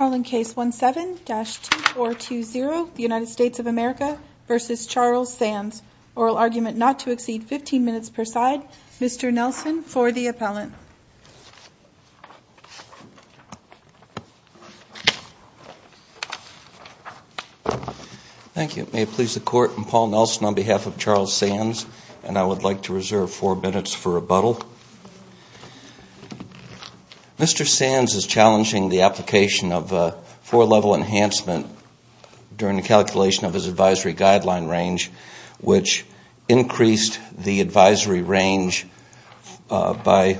Arling case 17-2420 United States of America v. Charles Sands oral argument not to exceed 15 minutes per side Mr. Nelson for the appellant. Thank you it may please the court and Paul Nelson on behalf of Charles Sands and I would like to reserve four minutes for rebuttal. Mr. Sands is challenging the application of a four-level enhancement during the calculation of his advisory guideline range which increased the advisory range by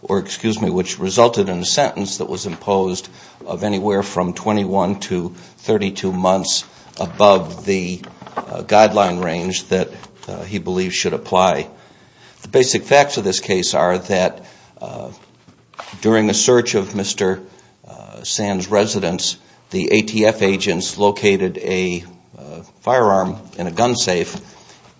or excuse me which resulted in a sentence that was imposed of anywhere from 21 to 32 months above the guideline range that he believes should apply. The basic facts of this case are that during the search of Mr. Sands residence the ATF agents located a firearm in a gun safe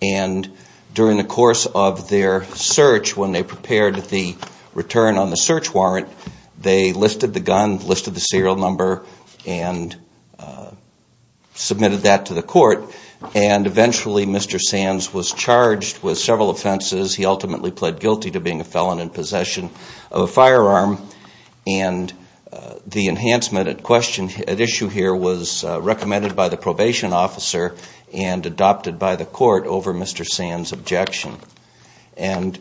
and during the course of their search when they prepared the return on the search warrant they listed the gun listed the serial number and submitted that to the court and eventually Mr. Sands was charged with several offenses he ultimately pled guilty to being a felon in possession of a firearm and the enhancement at question at issue here was recommended by the probation officer and adopted by the court over Mr. Sands objection and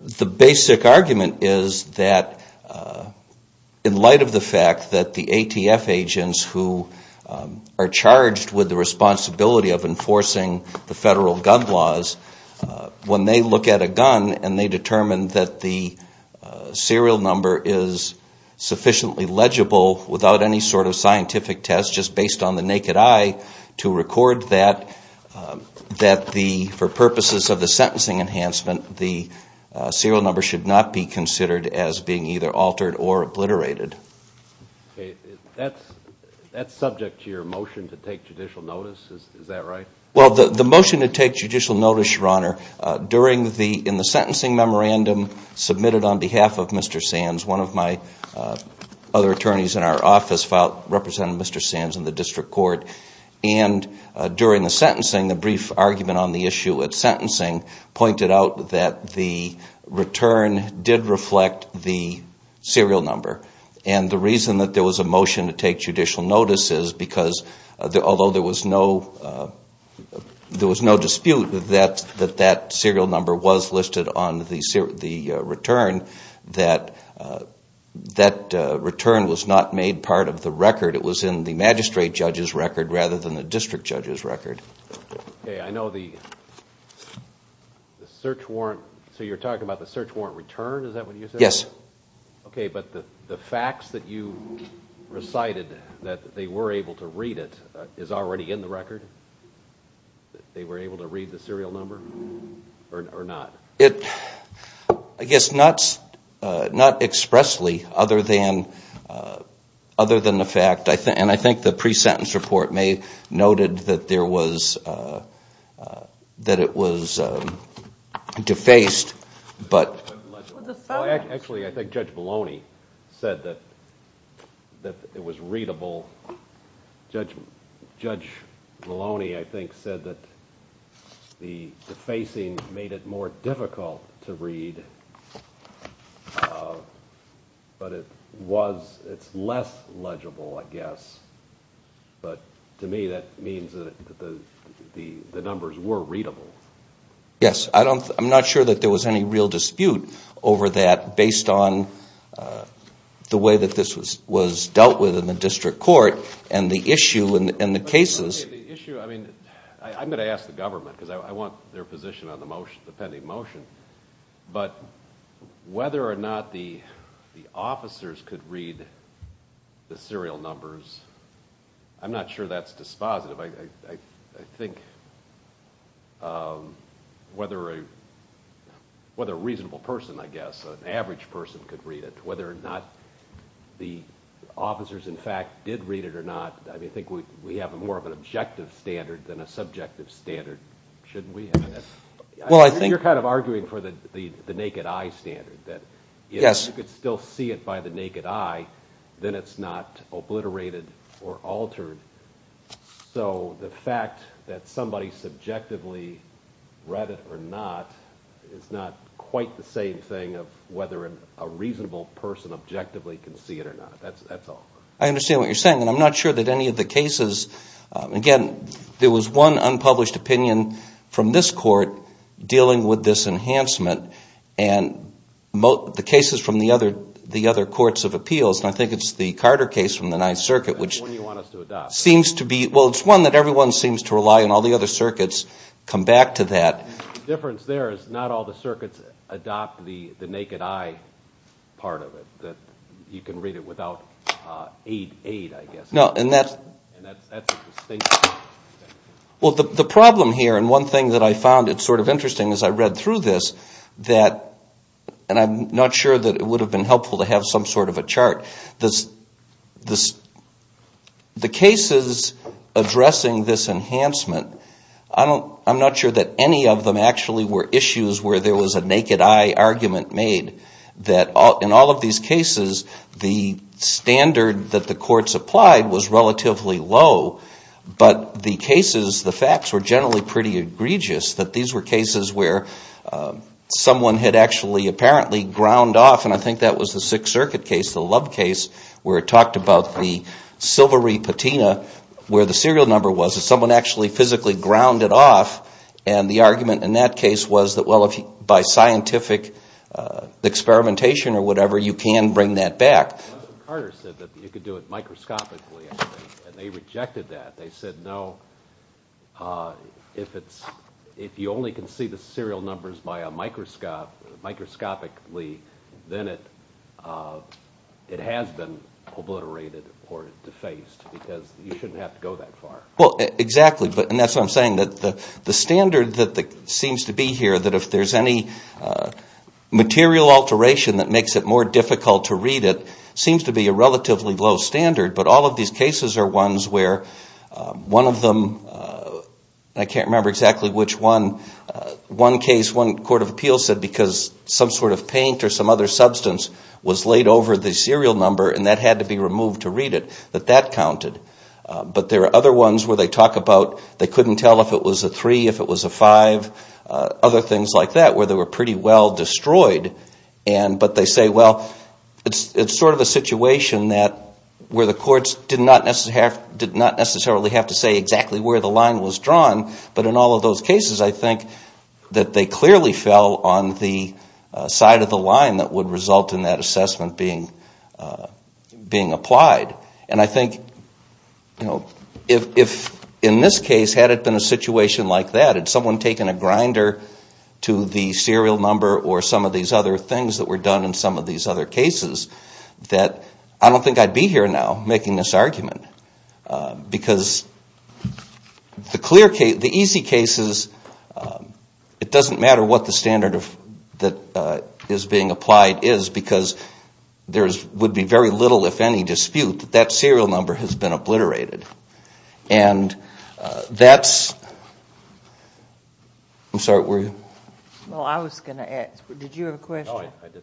the basic argument is that in light of the fact that the ATF agents who are charged with the responsibility of enforcing the federal gun laws when they look at a gun and they determined that the serial number is sufficiently legible without any sort of scientific test just based on the naked eye to record that that the for purposes of the sentencing enhancement the serial number should not be considered as being either altered or obliterated. That's subject to your motion to take judicial notice is that right? Well the motion to take judicial notice your honor during the in the sentencing memorandum submitted on behalf of Mr. Sands one of my other attorneys in our office filed representing Mr. Sands in the district court and during the sentencing the brief argument on the issue at sentencing pointed out that the return did reflect the serial number and the reason that there was a motion to take judicial notice is because although there was no there was no dispute that that that serial number was listed on the return that that return was not made part of the record it was in the magistrate judges record rather than the district judges record. I know the search warrant so you're talking about the search warrant return is that what you said? Yes. Okay but the the facts that you recited that they were able to read it is already in the record they were able to read the serial number or not? It I guess not not expressly other than other than the fact I think and I think the pre-sentence report may noted that there was that it was defaced but actually I think judge Maloney said that that it was readable judge judge Maloney I think said that the defacing made it more difficult to read but it was it's less legible I to me that means that the numbers were readable. Yes I don't I'm not sure that there was any real dispute over that based on the way that this was was dealt with in the district court and the issue in the cases. I'm gonna ask the government because I want their position on the motion the pending motion but whether or not the the officers could read the serial numbers I'm not sure that's dispositive I think whether a whether a reasonable person I guess an average person could read it whether or not the officers in fact did read it or not I think we have a more of an objective standard than a subjective standard shouldn't we well I think you're kind of arguing for the the the naked eye standard that yes you could still see it by the naked eye then it's not obliterated or altered so the fact that somebody subjectively read it or not it's not quite the same thing of whether a reasonable person objectively can see it or not that's that's all. I understand what you're saying and I'm one unpublished opinion from this court dealing with this enhancement and most the cases from the other the other courts of appeals and I think it's the Carter case from the Ninth Circuit which seems to be well it's one that everyone seems to rely on all the other circuits come back to that difference there is not all the circuits adopt the the naked eye part of it that you can read it well the problem here and one thing that I found it sort of interesting as I read through this that and I'm not sure that it would have been helpful to have some sort of a chart this this the cases addressing this enhancement I don't I'm not sure that any of them actually were issues where there was a naked eye argument made that in all of these cases the standard that the courts applied was relatively low but the cases the facts were generally pretty egregious that these were cases where someone had actually apparently ground off and I think that was the Sixth Circuit case the love case where it talked about the silvery patina where the serial number was someone actually physically ground it off and the argument in that case was that well if by scientific experimentation or whatever you can bring that back microscopically and they rejected that they said no if it's if you only can see the serial numbers by a microscope microscopically then it it has been obliterated or defaced because you shouldn't have to go that far well exactly but and that's what I'm saying that the standard that the seems to be here that if there's any material alteration that makes it more difficult to read it seems to be a relatively low standard but all of these cases are ones where one of them I can't remember exactly which one one case one Court of Appeals said because some sort of paint or some other substance was laid over the serial number and that had to be removed to read it that that counted but there are other ones where they talk about they couldn't tell if it was a other things like that where they were pretty well destroyed and but they say well it's it's sort of a situation that where the courts did not necessary have did not necessarily have to say exactly where the line was drawn but in all of those cases I think that they clearly fell on the side of the line that would result in that assessment being being applied and I think you know if in this case had it been a situation like that and someone taken a grinder to the serial number or some of these other things that were done in some of these other cases that I don't think I'd be here now making this argument because the clear case the easy cases it doesn't matter what the standard of that is being applied is because there's would be very little if any dispute that serial number has been obliterated and that's I'm sorry were you well I was going to ask did you have a question I did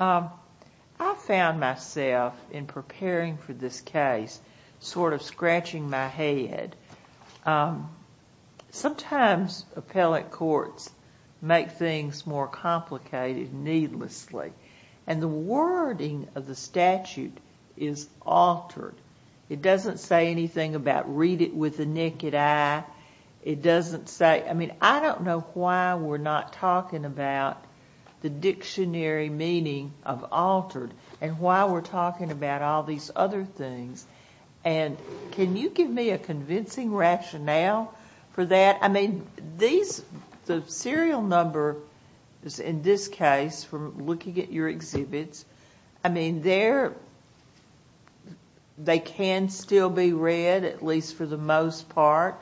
I found myself in preparing for this case sort of scratching my head sometimes appellate courts make things more it doesn't say anything about read it with the naked eye it doesn't say I mean I don't know why we're not talking about the dictionary meaning of altered and why we're talking about all these other things and can you give me a convincing rationale for that I mean these the serial number is in this case from looking at your exhibits I mean there they can still be read at least for the most part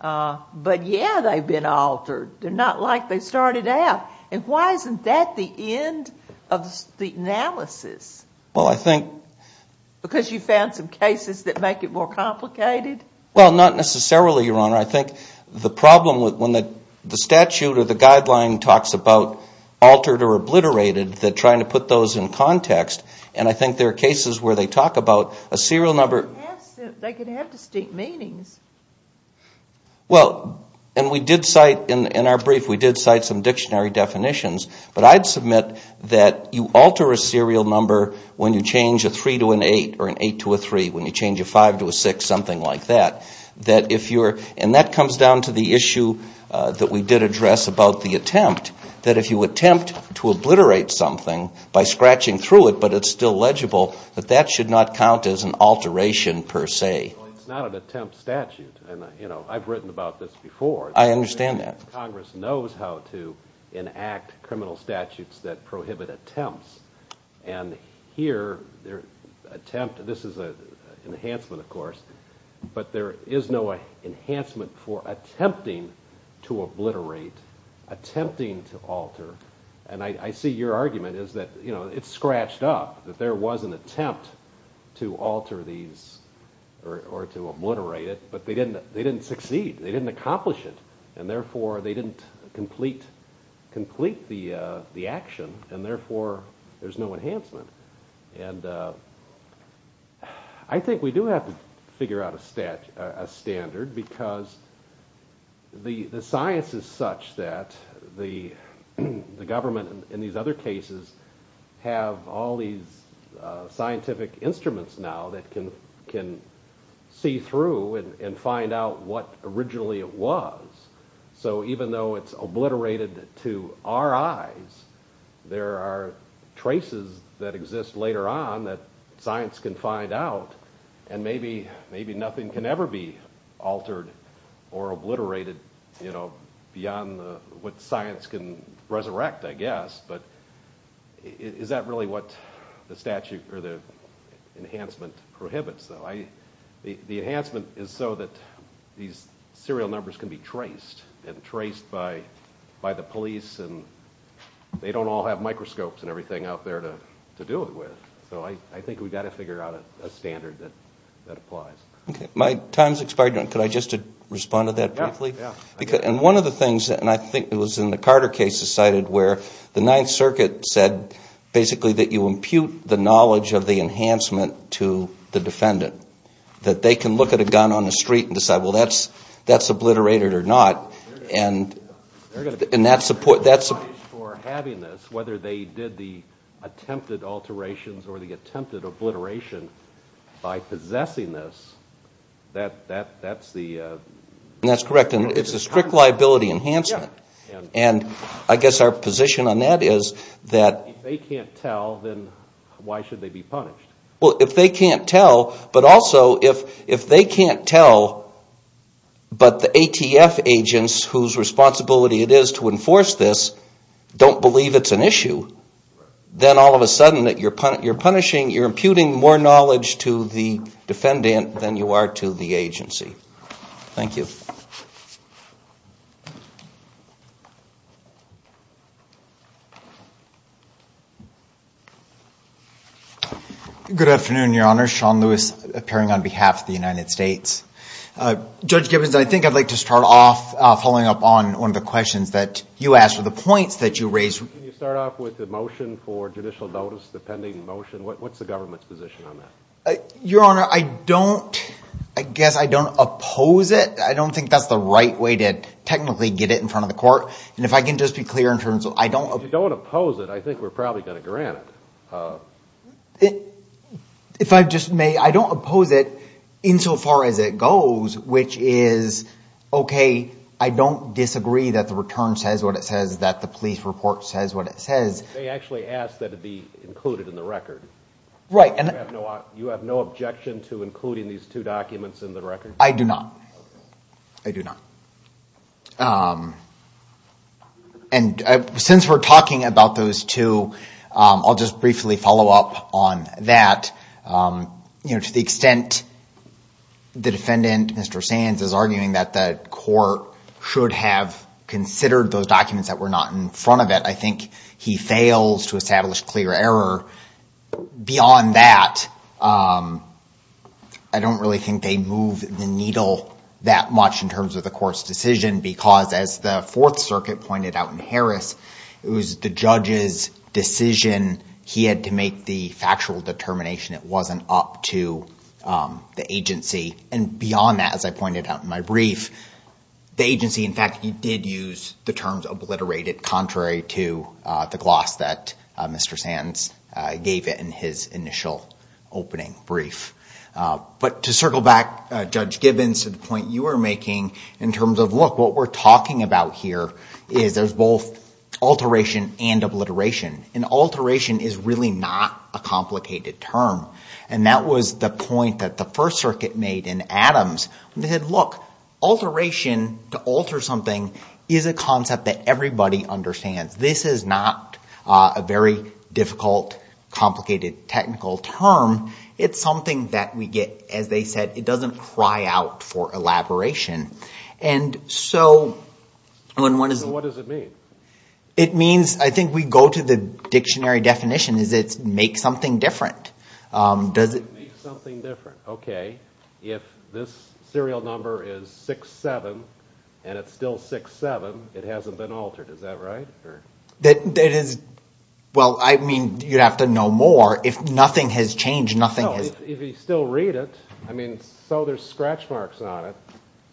but yeah they've been altered they're not like they started out and why isn't that the end of the analysis well I think because you found some cases that make it more complicated well not necessarily your honor I think the problem with when the statute of the guideline talks about altered or trying to put those in context and I think there are cases where they talk about a serial number well and we did cite in our brief we did cite some dictionary definitions but I'd submit that you alter a serial number when you change a three to an eight or an eight to a three when you change a five to a six something like that that if you're and that comes down to the issue that we did address about the attempt that if you attempt to obliterate something by scratching through it but it's still legible that that should not count as an alteration per se it's not an attempt statute and you know I've written about this before I understand that Congress knows how to enact criminal statutes that prohibit attempts and here their attempt this is a enhancement of course but there is no enhancement for attempting to obliterate attempting to alter and I see your argument is that you know it's scratched up that there was an attempt to alter these or to obliterate it but they didn't they didn't succeed they didn't accomplish it and therefore they didn't complete complete the the action and therefore there's no enhancement and I think we do have to figure out a stat a standard because the the science is such that the the government in these other cases have all these scientific instruments now that can can see through and find out what originally it was so even though it's obliterated to our eyes there are traces that exist later on that science can find out and maybe maybe nothing can ever be altered or obliterated you know beyond what science can resurrect I guess but is that really what the statute or the enhancement prohibits though I the enhancement is so that these serial numbers can be traced and traced by by the police and they don't all have microscopes and everything out there to do it with so I think we got to figure out a standard that that applies my time's expired and could I just to respond to that because and one of the things that and I think it was in the Carter case decided where the Ninth Circuit said basically that you impute the knowledge of the enhancement to the defendant that they can look at a gun on the street and decide well that's that's obliterated or not and in that support that's for having this whether they did the attempted alterations or the by possessing this that that that's the that's correct and it's a strict liability enhancement and I guess our position on that is that they can't tell then why should they be punished well if they can't tell but also if if they can't tell but the ATF agents whose responsibility it is to enforce this don't believe it's an issue then all of a sudden that you're putting you're putting more knowledge to the defendant than you are to the agency thank you good afternoon your honor Sean Lewis appearing on behalf of the United States judge Gibbons I think I'd like to start off following up on one of the questions that you asked for the points that you raised with the motion for judicial motion what's the government's position on that your honor I don't I guess I don't oppose it I don't think that's the right way to technically get it in front of the court and if I can just be clear in terms of I don't don't oppose it I think we're probably gonna grant it if I just may I don't oppose it insofar as it goes which is okay I don't disagree that the return says what it says that the police report says what it says they actually asked that to be included in the record right and you have no objection to including these two documents in the record I do not I do not and since we're talking about those two I'll just briefly follow up on that you know to the extent the defendant mr. Sands is arguing that the court should have considered those documents that were not in front of it I think he fails to establish clear error beyond that I don't really think they move the needle that much in terms of the course decision because as the Fourth Circuit pointed out in Harris it was the judge's decision he had to make the factual determination it wasn't up to the agency and beyond that as I pointed out in my brief the agency in fact he did use the it contrary to the gloss that mr. Sands gave it in his initial opening brief but to circle back judge Gibbons to the point you were making in terms of look what we're talking about here is there's both alteration and obliteration an alteration is really not a complicated term and that was the point that the First Circuit made in Adams they had look alteration to alter something is a understands this is not a very difficult complicated technical term it's something that we get as they said it doesn't cry out for elaboration and so when one is what does it mean it means I think we go to the dictionary definition is it make something different does it okay if this serial number is 67 and still 67 it hasn't been altered is that right that it is well I mean you have to know more if nothing has changed nothing is if you still read it I mean so there's scratch marks on it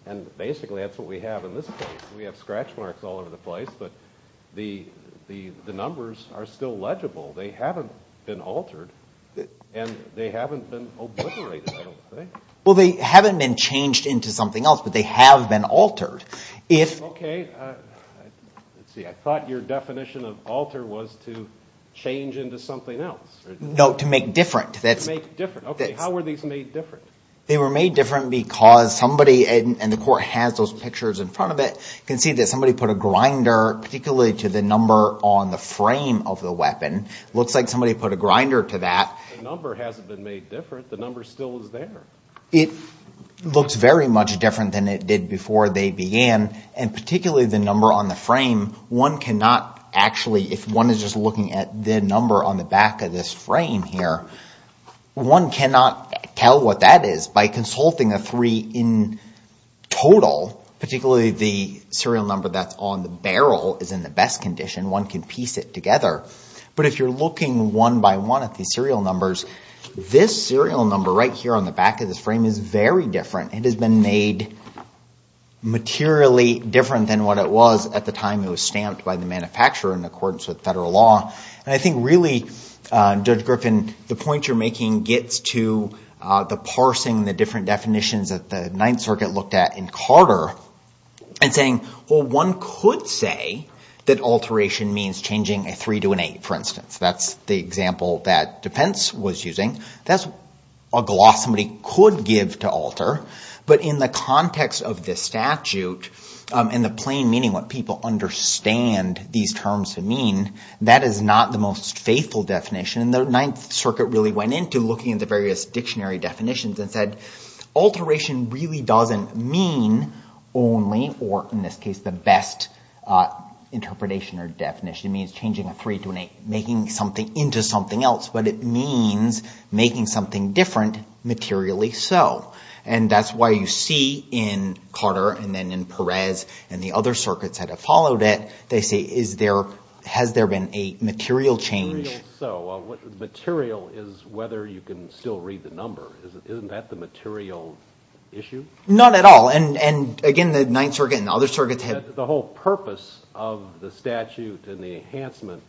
and basically that's what we have in this case we have scratch marks all over the place but the the the numbers are still legible they haven't been altered and they haven't been well they haven't been changed into something else but they have been altered if okay I thought your definition of alter was to change into something else no to make different that's different they were made different because somebody and the court has those pictures in front of it can see that somebody put a grinder particularly to the number on the frame of the weapon looks like somebody put a it looks very much different than it did before they began and particularly the number on the frame one cannot actually if one is just looking at the number on the back of this frame here one cannot tell what that is by consulting a three in total particularly the serial number that's on the barrel is in the best condition one can piece it together but if you're looking one by one at the serial numbers this serial number right here on the back of this frame is very different it has been made materially different than what it was at the time it was stamped by the manufacturer in accordance with federal law and I think really judge Griffin the point you're making gets to the parsing the different definitions that the Ninth Circuit looked at in Carter and saying well one could say that alteration means changing a three to an eight for the example that defense was using that's a gloss somebody could give to alter but in the context of this statute and the plain meaning what people understand these terms to mean that is not the most faithful definition and the Ninth Circuit really went into looking at the various dictionary definitions and said alteration really doesn't mean only or in this case the best interpretation or definition means changing a three to an eight making something into something else but it means making something different materially so and that's why you see in Carter and then in Perez and the other circuits that have followed it they say is there has there been a material change so what material is whether you can still read the number isn't that the material issue not at all and and again the Ninth Circuit and other circuits have the whole purpose of the statute and the enhancement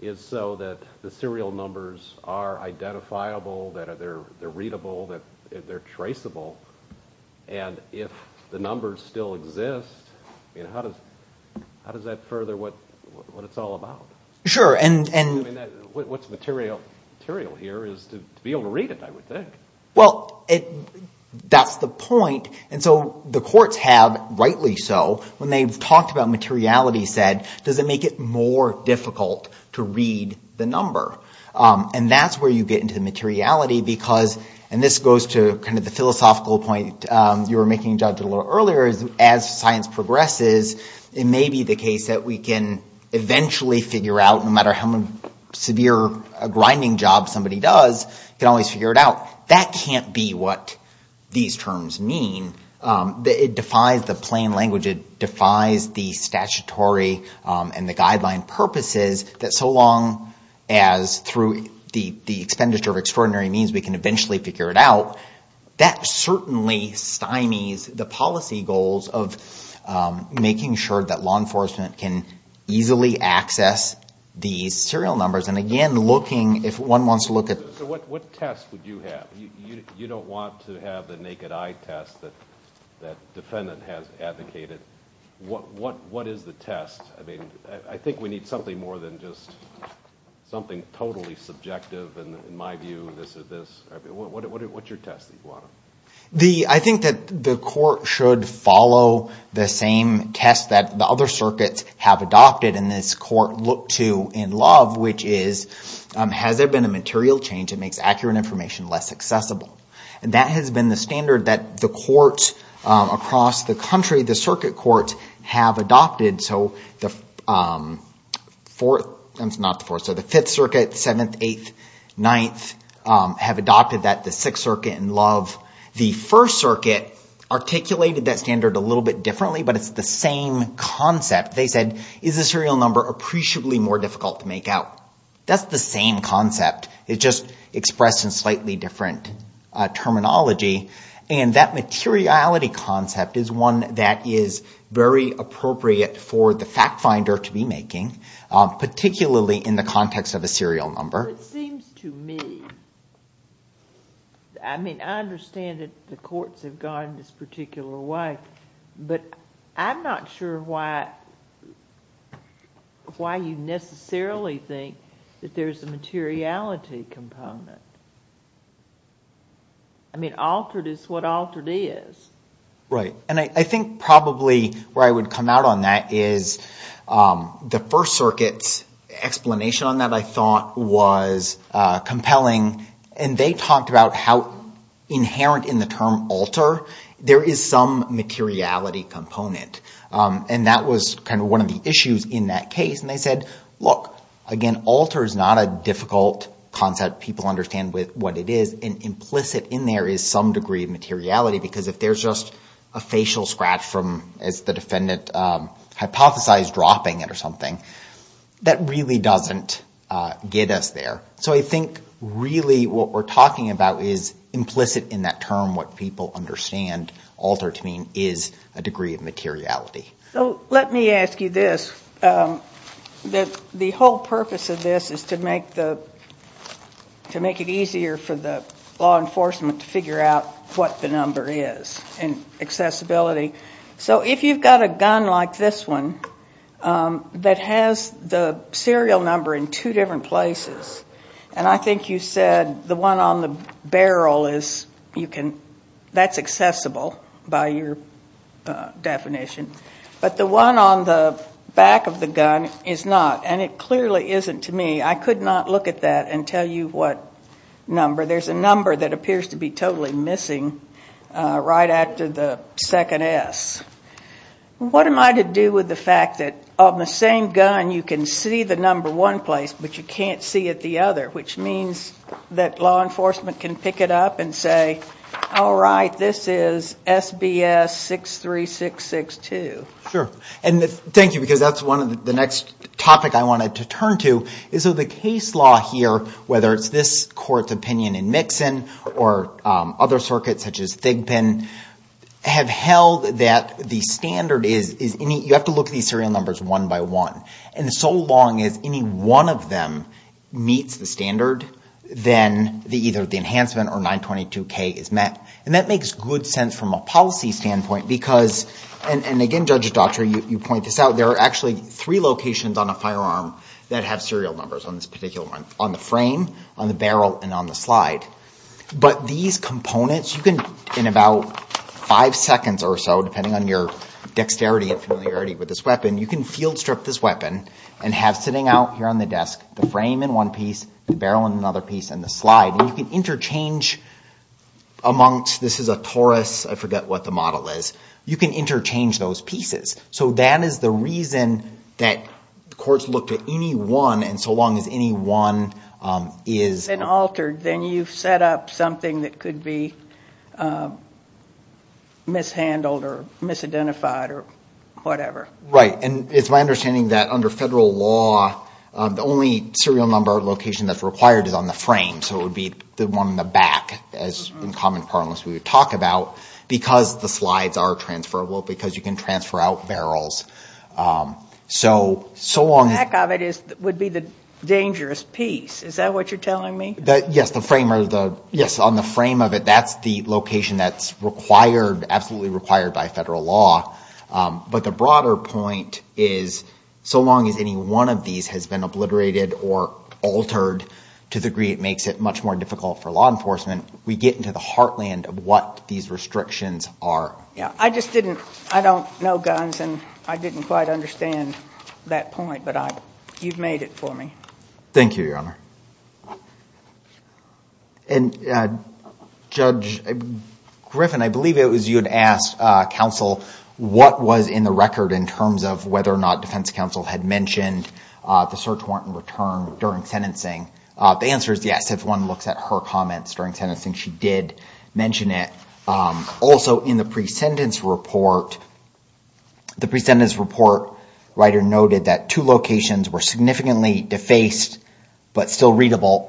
is so that the serial numbers are identifiable that are there they're readable that they're traceable and if the numbers still exist you know how does how does that further what what it's all about sure and and what's material material here is to be able to read it I would think well it that's the point and so the courts have rightly so when they've talked about materiality said does it make it more difficult to read the number and that's where you get into the materiality because and this goes to kind of the philosophical point you were making judge a little earlier as science progresses it may be the case that we can eventually figure out no matter how many severe a grinding job somebody does you can always figure it out that can't be what these terms mean that it defies the plain language it defies the statutory and the guideline purposes that so long as through the the expenditure of extraordinary means we can eventually figure it out that certainly stymies the policy goals of making sure that law enforcement can easily access these serial numbers and again looking if one wants to look at what test would you have you don't want to have the naked eye test that that defendant has advocated what what what is the test I mean I think we need something more than just something totally subjective and in my view this is this what your test the I think that the court should follow the same test that the other circuits have adopted in this court look to in love which is has there been a material change it makes accurate information less accessible and that has been the standard that the court across the country the circuit court have adopted so the 4th and not for so the 5th circuit 7th 8th 9th have adopted that the 6th circuit in love the first circuit articulated that standard a little bit differently but it's the same concept they said is a serial number appreciably more difficult to the same concept it just expressed in slightly different terminology and that materiality concept is one that is very appropriate for the fact finder to be making particularly in the context of a serial number I mean I understand it the courts have gone this particular way but I'm not sure why why you necessarily think that there's a materiality component I mean altered is what altered is right and I think probably where I would come out on that is the first circuits explanation on that I thought was compelling and they talked about how inherent in the term alter there is some materiality component and that was kind of one of the issues in that case and they said look again alters not a difficult concept people understand with what it is an implicit in there is some degree of materiality because if there's just a facial scratch from as the defendant hypothesized dropping it or something that really doesn't get us there so I think really what we're talking about is implicit in that term what people understand altered to mean is a degree of materiality so let me ask you this that the whole purpose of this is to make the to make it easier for the law enforcement to figure out what the number is and accessibility so if you've got a gun like this one that has the serial number in two different places and I think you said the one on the barrel is you can that's accessible by your definition but the one on the back of the gun is not and it clearly isn't to me I could not look at that and tell you what number there's a number that appears to be totally missing right after the second S what am I to do with the fact that on the same gun you can see the number one place but you can't see it the other which means that law enforcement can pick it up and say all right this is SBS 63662 and thank you because that's one of the next topic I wanted to turn to is of the case law here whether it's this court's opinion in mixin or other circuits such as they've been have held that the standard is is any you have to look at these serial numbers one by one and so long as any one of them meets the standard then the either the enhancement or 922 K is met and that makes good sense from a policy standpoint because and again judge doctor you point this out there are actually three locations on a firearm that have serial numbers on this particular one on the frame on the barrel and on the slide but these components you can in about five seconds or so depending on your dexterity and familiarity with this weapon you can field strip this weapon and have sitting out here on the desk the frame in one piece barrel and another piece and the slide you can change amongst this is a Taurus I forget what the model is you can interchange those pieces so that is the reason that the courts looked at any one and so long as any one is an altered then you've set up something that could be mishandled or misidentified or whatever right and it's my understanding that under federal law the only serial number location that's on the frame so it would be the one in the back as in common parlance we would talk about because the slides are transferable because you can transfer out barrels so so long of it is that would be the dangerous piece is that what you're telling me that yes the frame or the yes on the frame of it that's the location that's required absolutely required by federal law but the broader point is so long as any one of these has been obliterated or altered to the degree it makes it much more difficult for law enforcement we get into the heartland of what these restrictions are yeah I just didn't I don't know guns and I didn't quite understand that point but I you've made it for me thank you your honor and judge Griffin I believe it was you had asked counsel what was in the record in terms of whether or not defense counsel had mentioned the search warrant in return during sentencing the answer is yes if one looks at her comments during sentencing she did mention it also in the pre-sentence report the pre-sentence report writer noted that two locations were significantly defaced but still readable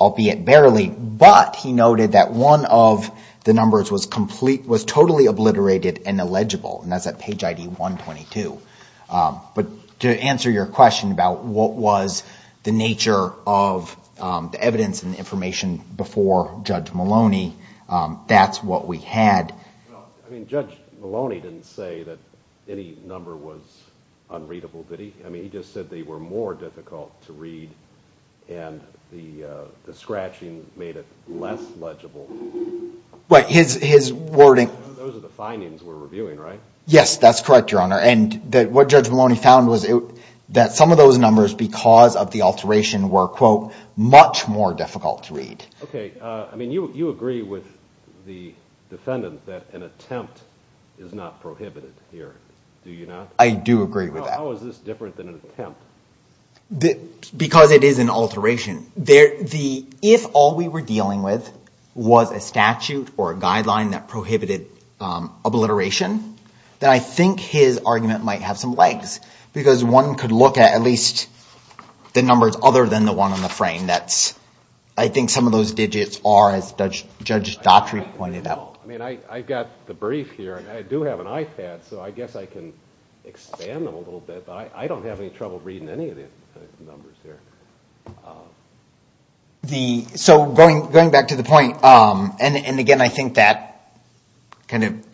albeit barely but he noted that one of the numbers was complete was totally obliterated and illegible and to answer your question about what was the nature of the evidence and information before judge Maloney that's what we had I mean judge Maloney didn't say that any number was unreadable did he I mean he just said they were more difficult to read and the scratching made it less legible but his his wording those are the findings we're reviewing right yes that's correct your honor and that what judge Maloney found was it that some of those numbers because of the alteration were quote much more difficult to read okay I mean you you agree with the defendant that an attempt is not prohibited here do you know I do agree with that because it is an alteration there the if all we were dealing with was a statute or a guideline that prohibited obliteration then I think his argument might have some legs because one could look at at least the numbers other than the one on the frame that's I think some of those digits are as judge doctor he pointed out I mean I got the brief here and I do have an iPad so I guess I can expand them a little bit but I don't have any trouble reading any of the numbers here the so going going back to the point and again I think that kind of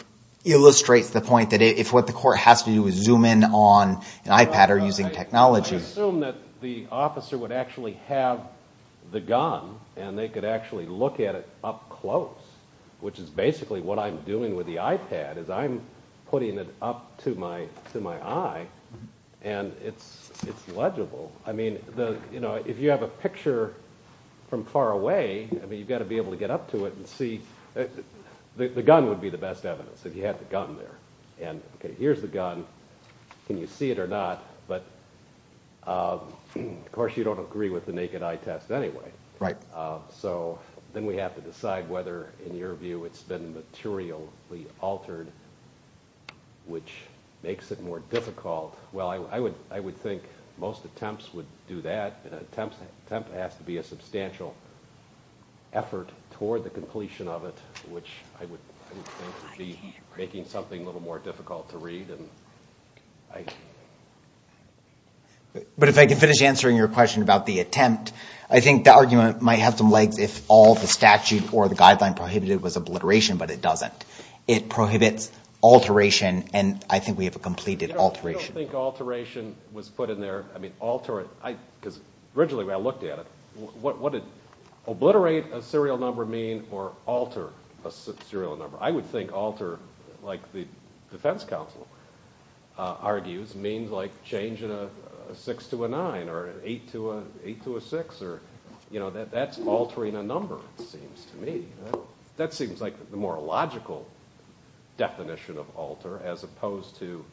illustrates the point that if what the court has to do is zoom in on an iPad or using technology assume that the officer would actually have the gun and they could actually look at it up close which is basically what I'm doing with the iPad is I'm putting it up to my to my eye and it's it's legible I mean the you know if you have a picture from far away I mean you've got to be able to get up to it and see the gun would be the best evidence if you had the gun there and okay here's the gun can you see it or not but of course you don't agree with the naked eye test anyway right so then we have to decide whether in your view it's been materially altered which makes it more difficult well I would I would think most attempts would do that and temp temp has to be a substantial effort toward the completion of it which I would be making something a little more difficult to read and I but if I can finish answering your question about the attempt I think the argument might have some legs if all the statute or the guideline prohibited was obliteration but it doesn't it prohibits alteration and I think we have a completed alteration was put in there I mean alter it I because originally I looked at it what what did obliterate a serial number mean or alter a serial number I would think alter like the Defense Council argues means like changing a six to a nine or eight to a eight to a six or you know that that's altering a number it seems to me that seems like the more logical definition of alter as opposed to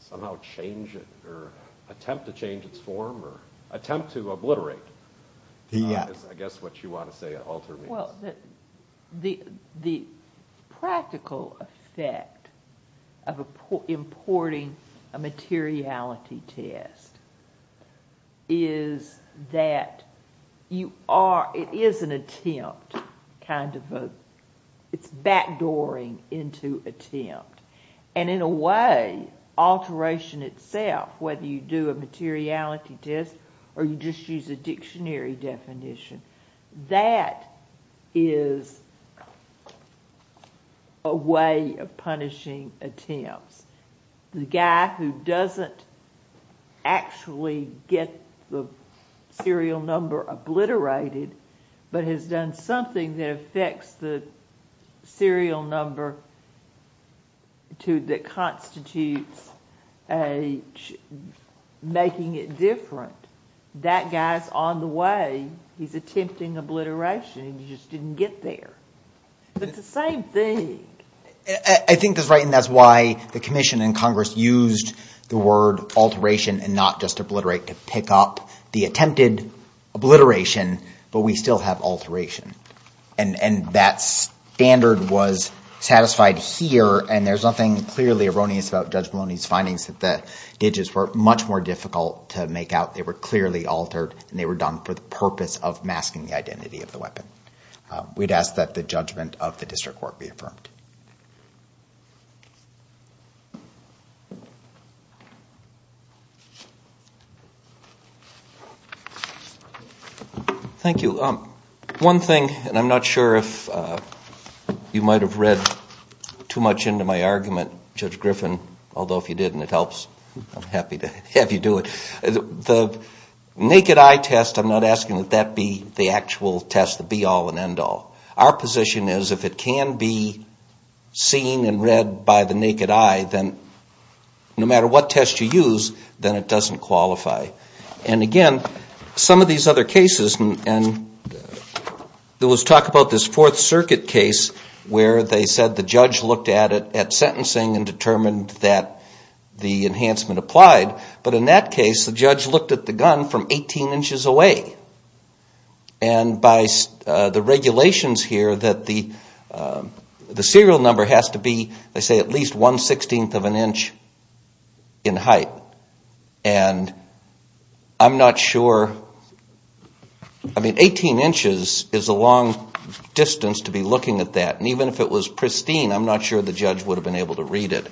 somehow change it or attempt to change its form or attempt to obliterate the yes I guess what you want to say alter well the the practical effect of a poor importing a materiality test is that you are it is an attempt kind of a it's backdooring into attempt and in a way alteration itself whether you do a materiality test or you just use a dictionary definition that is a way of punishing attempts the guy who doesn't actually get the serial number obliterated but has done something that affects the serial number to that constitutes a making it different that guy's on the way he's attempting obliteration you just didn't get there but the same thing I think that's right and that's why the Commission and Congress used the word alteration and just obliterate to pick up the attempted obliteration but we still have alteration and and that standard was satisfied here and there's nothing clearly erroneous about judge Maloney's findings that the digits were much more difficult to make out they were clearly altered and they were done for the purpose of masking the identity of the weapon we'd ask that the judgment of the thank you um one thing and I'm not sure if you might have read too much into my argument judge Griffin although if you didn't it helps I'm happy to have you do it the naked eye test I'm not asking that that be the actual test to be all and end all our position is if it can be seen and read by the naked eye then no it doesn't qualify and again some of these other cases and there was talk about this Fourth Circuit case where they said the judge looked at it at sentencing and determined that the enhancement applied but in that case the judge looked at the gun from 18 inches away and by the regulations here that the the serial number has to be they say at least 1 16th of an inch in height and I'm not sure I mean 18 inches is a long distance to be looking at that and even if it was pristine I'm not sure the judge would have been able to read it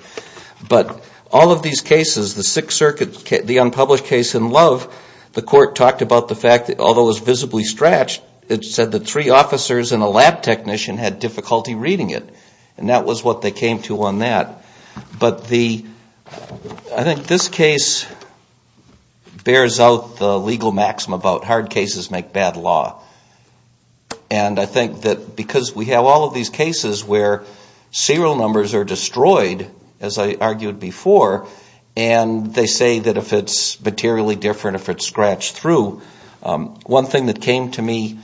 but all of these cases the Sixth Circuit the unpublished case in love the court talked about the fact that although was visibly stretched it said the three officers and a lab technician had difficulty reading it and that was what they came to on that but the I think this case bears out the legal maxim about hard cases make bad law and I think that because we have all of these cases where serial numbers are destroyed as I argued before and they say that if it's materially different if it's scratched through one thing that came to me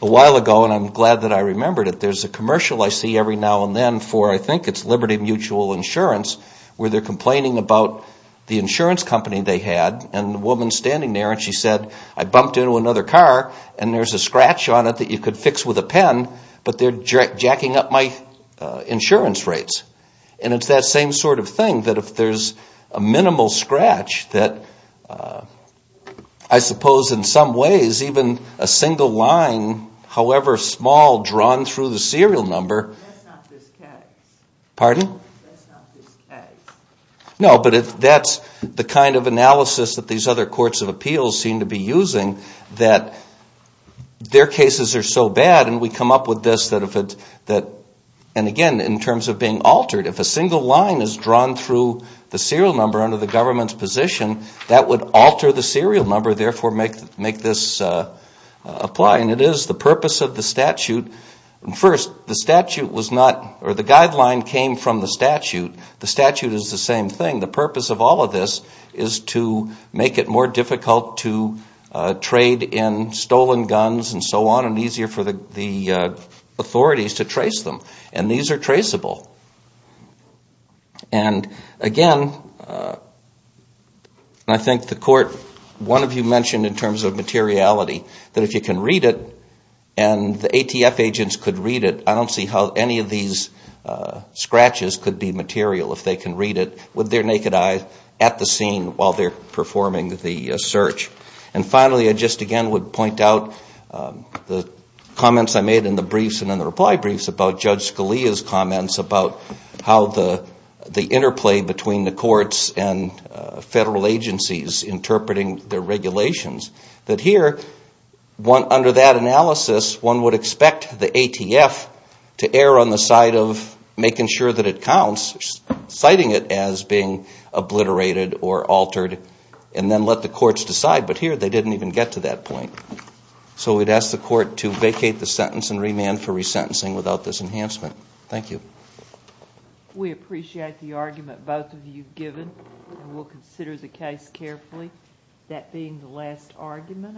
a while ago and I'm glad that I remembered it there's a commercial I see every now and then for I think it's Liberty Mutual Insurance where they're complaining about the insurance company they had and the woman standing there and she said I bumped into another car and there's a scratch on it that you could fix with a pen but they're jacking up my insurance rates and it's that same sort of thing that if there's a minimal scratch that I suppose in some ways even a single line however small drawn through the serial number pardon no but if that's the kind of analysis that these other courts of appeals seem to be using that their cases are so bad and we come up with this that if it that and again in terms of being altered if a single line is drawn through the serial number under the government's position that would alter the serial number therefore make make this apply and it is the purpose of the statute and first the statute was not or the guideline came from the statute the statute is the same thing the purpose of all of this is to make it more difficult to trade in stolen guns and so on and easier for the authorities to trace them and these are in terms of materiality that if you can read it and the ATF agents could read it I don't see how any of these scratches could be material if they can read it with their naked eyes at the scene while they're performing the search and finally I just again would point out the comments I made in the briefs and in the reply briefs about Judge Scalia's comments about how the the interplay between the courts and federal agencies interpreting the regulations that here one under that analysis one would expect the ATF to err on the side of making sure that it counts citing it as being obliterated or altered and then let the courts decide but here they didn't even get to that point so we'd ask the court to vacate the sentence and remand for resentencing without this enhancement thank you we appreciate the argument both of you given will consider the case carefully that being the last argument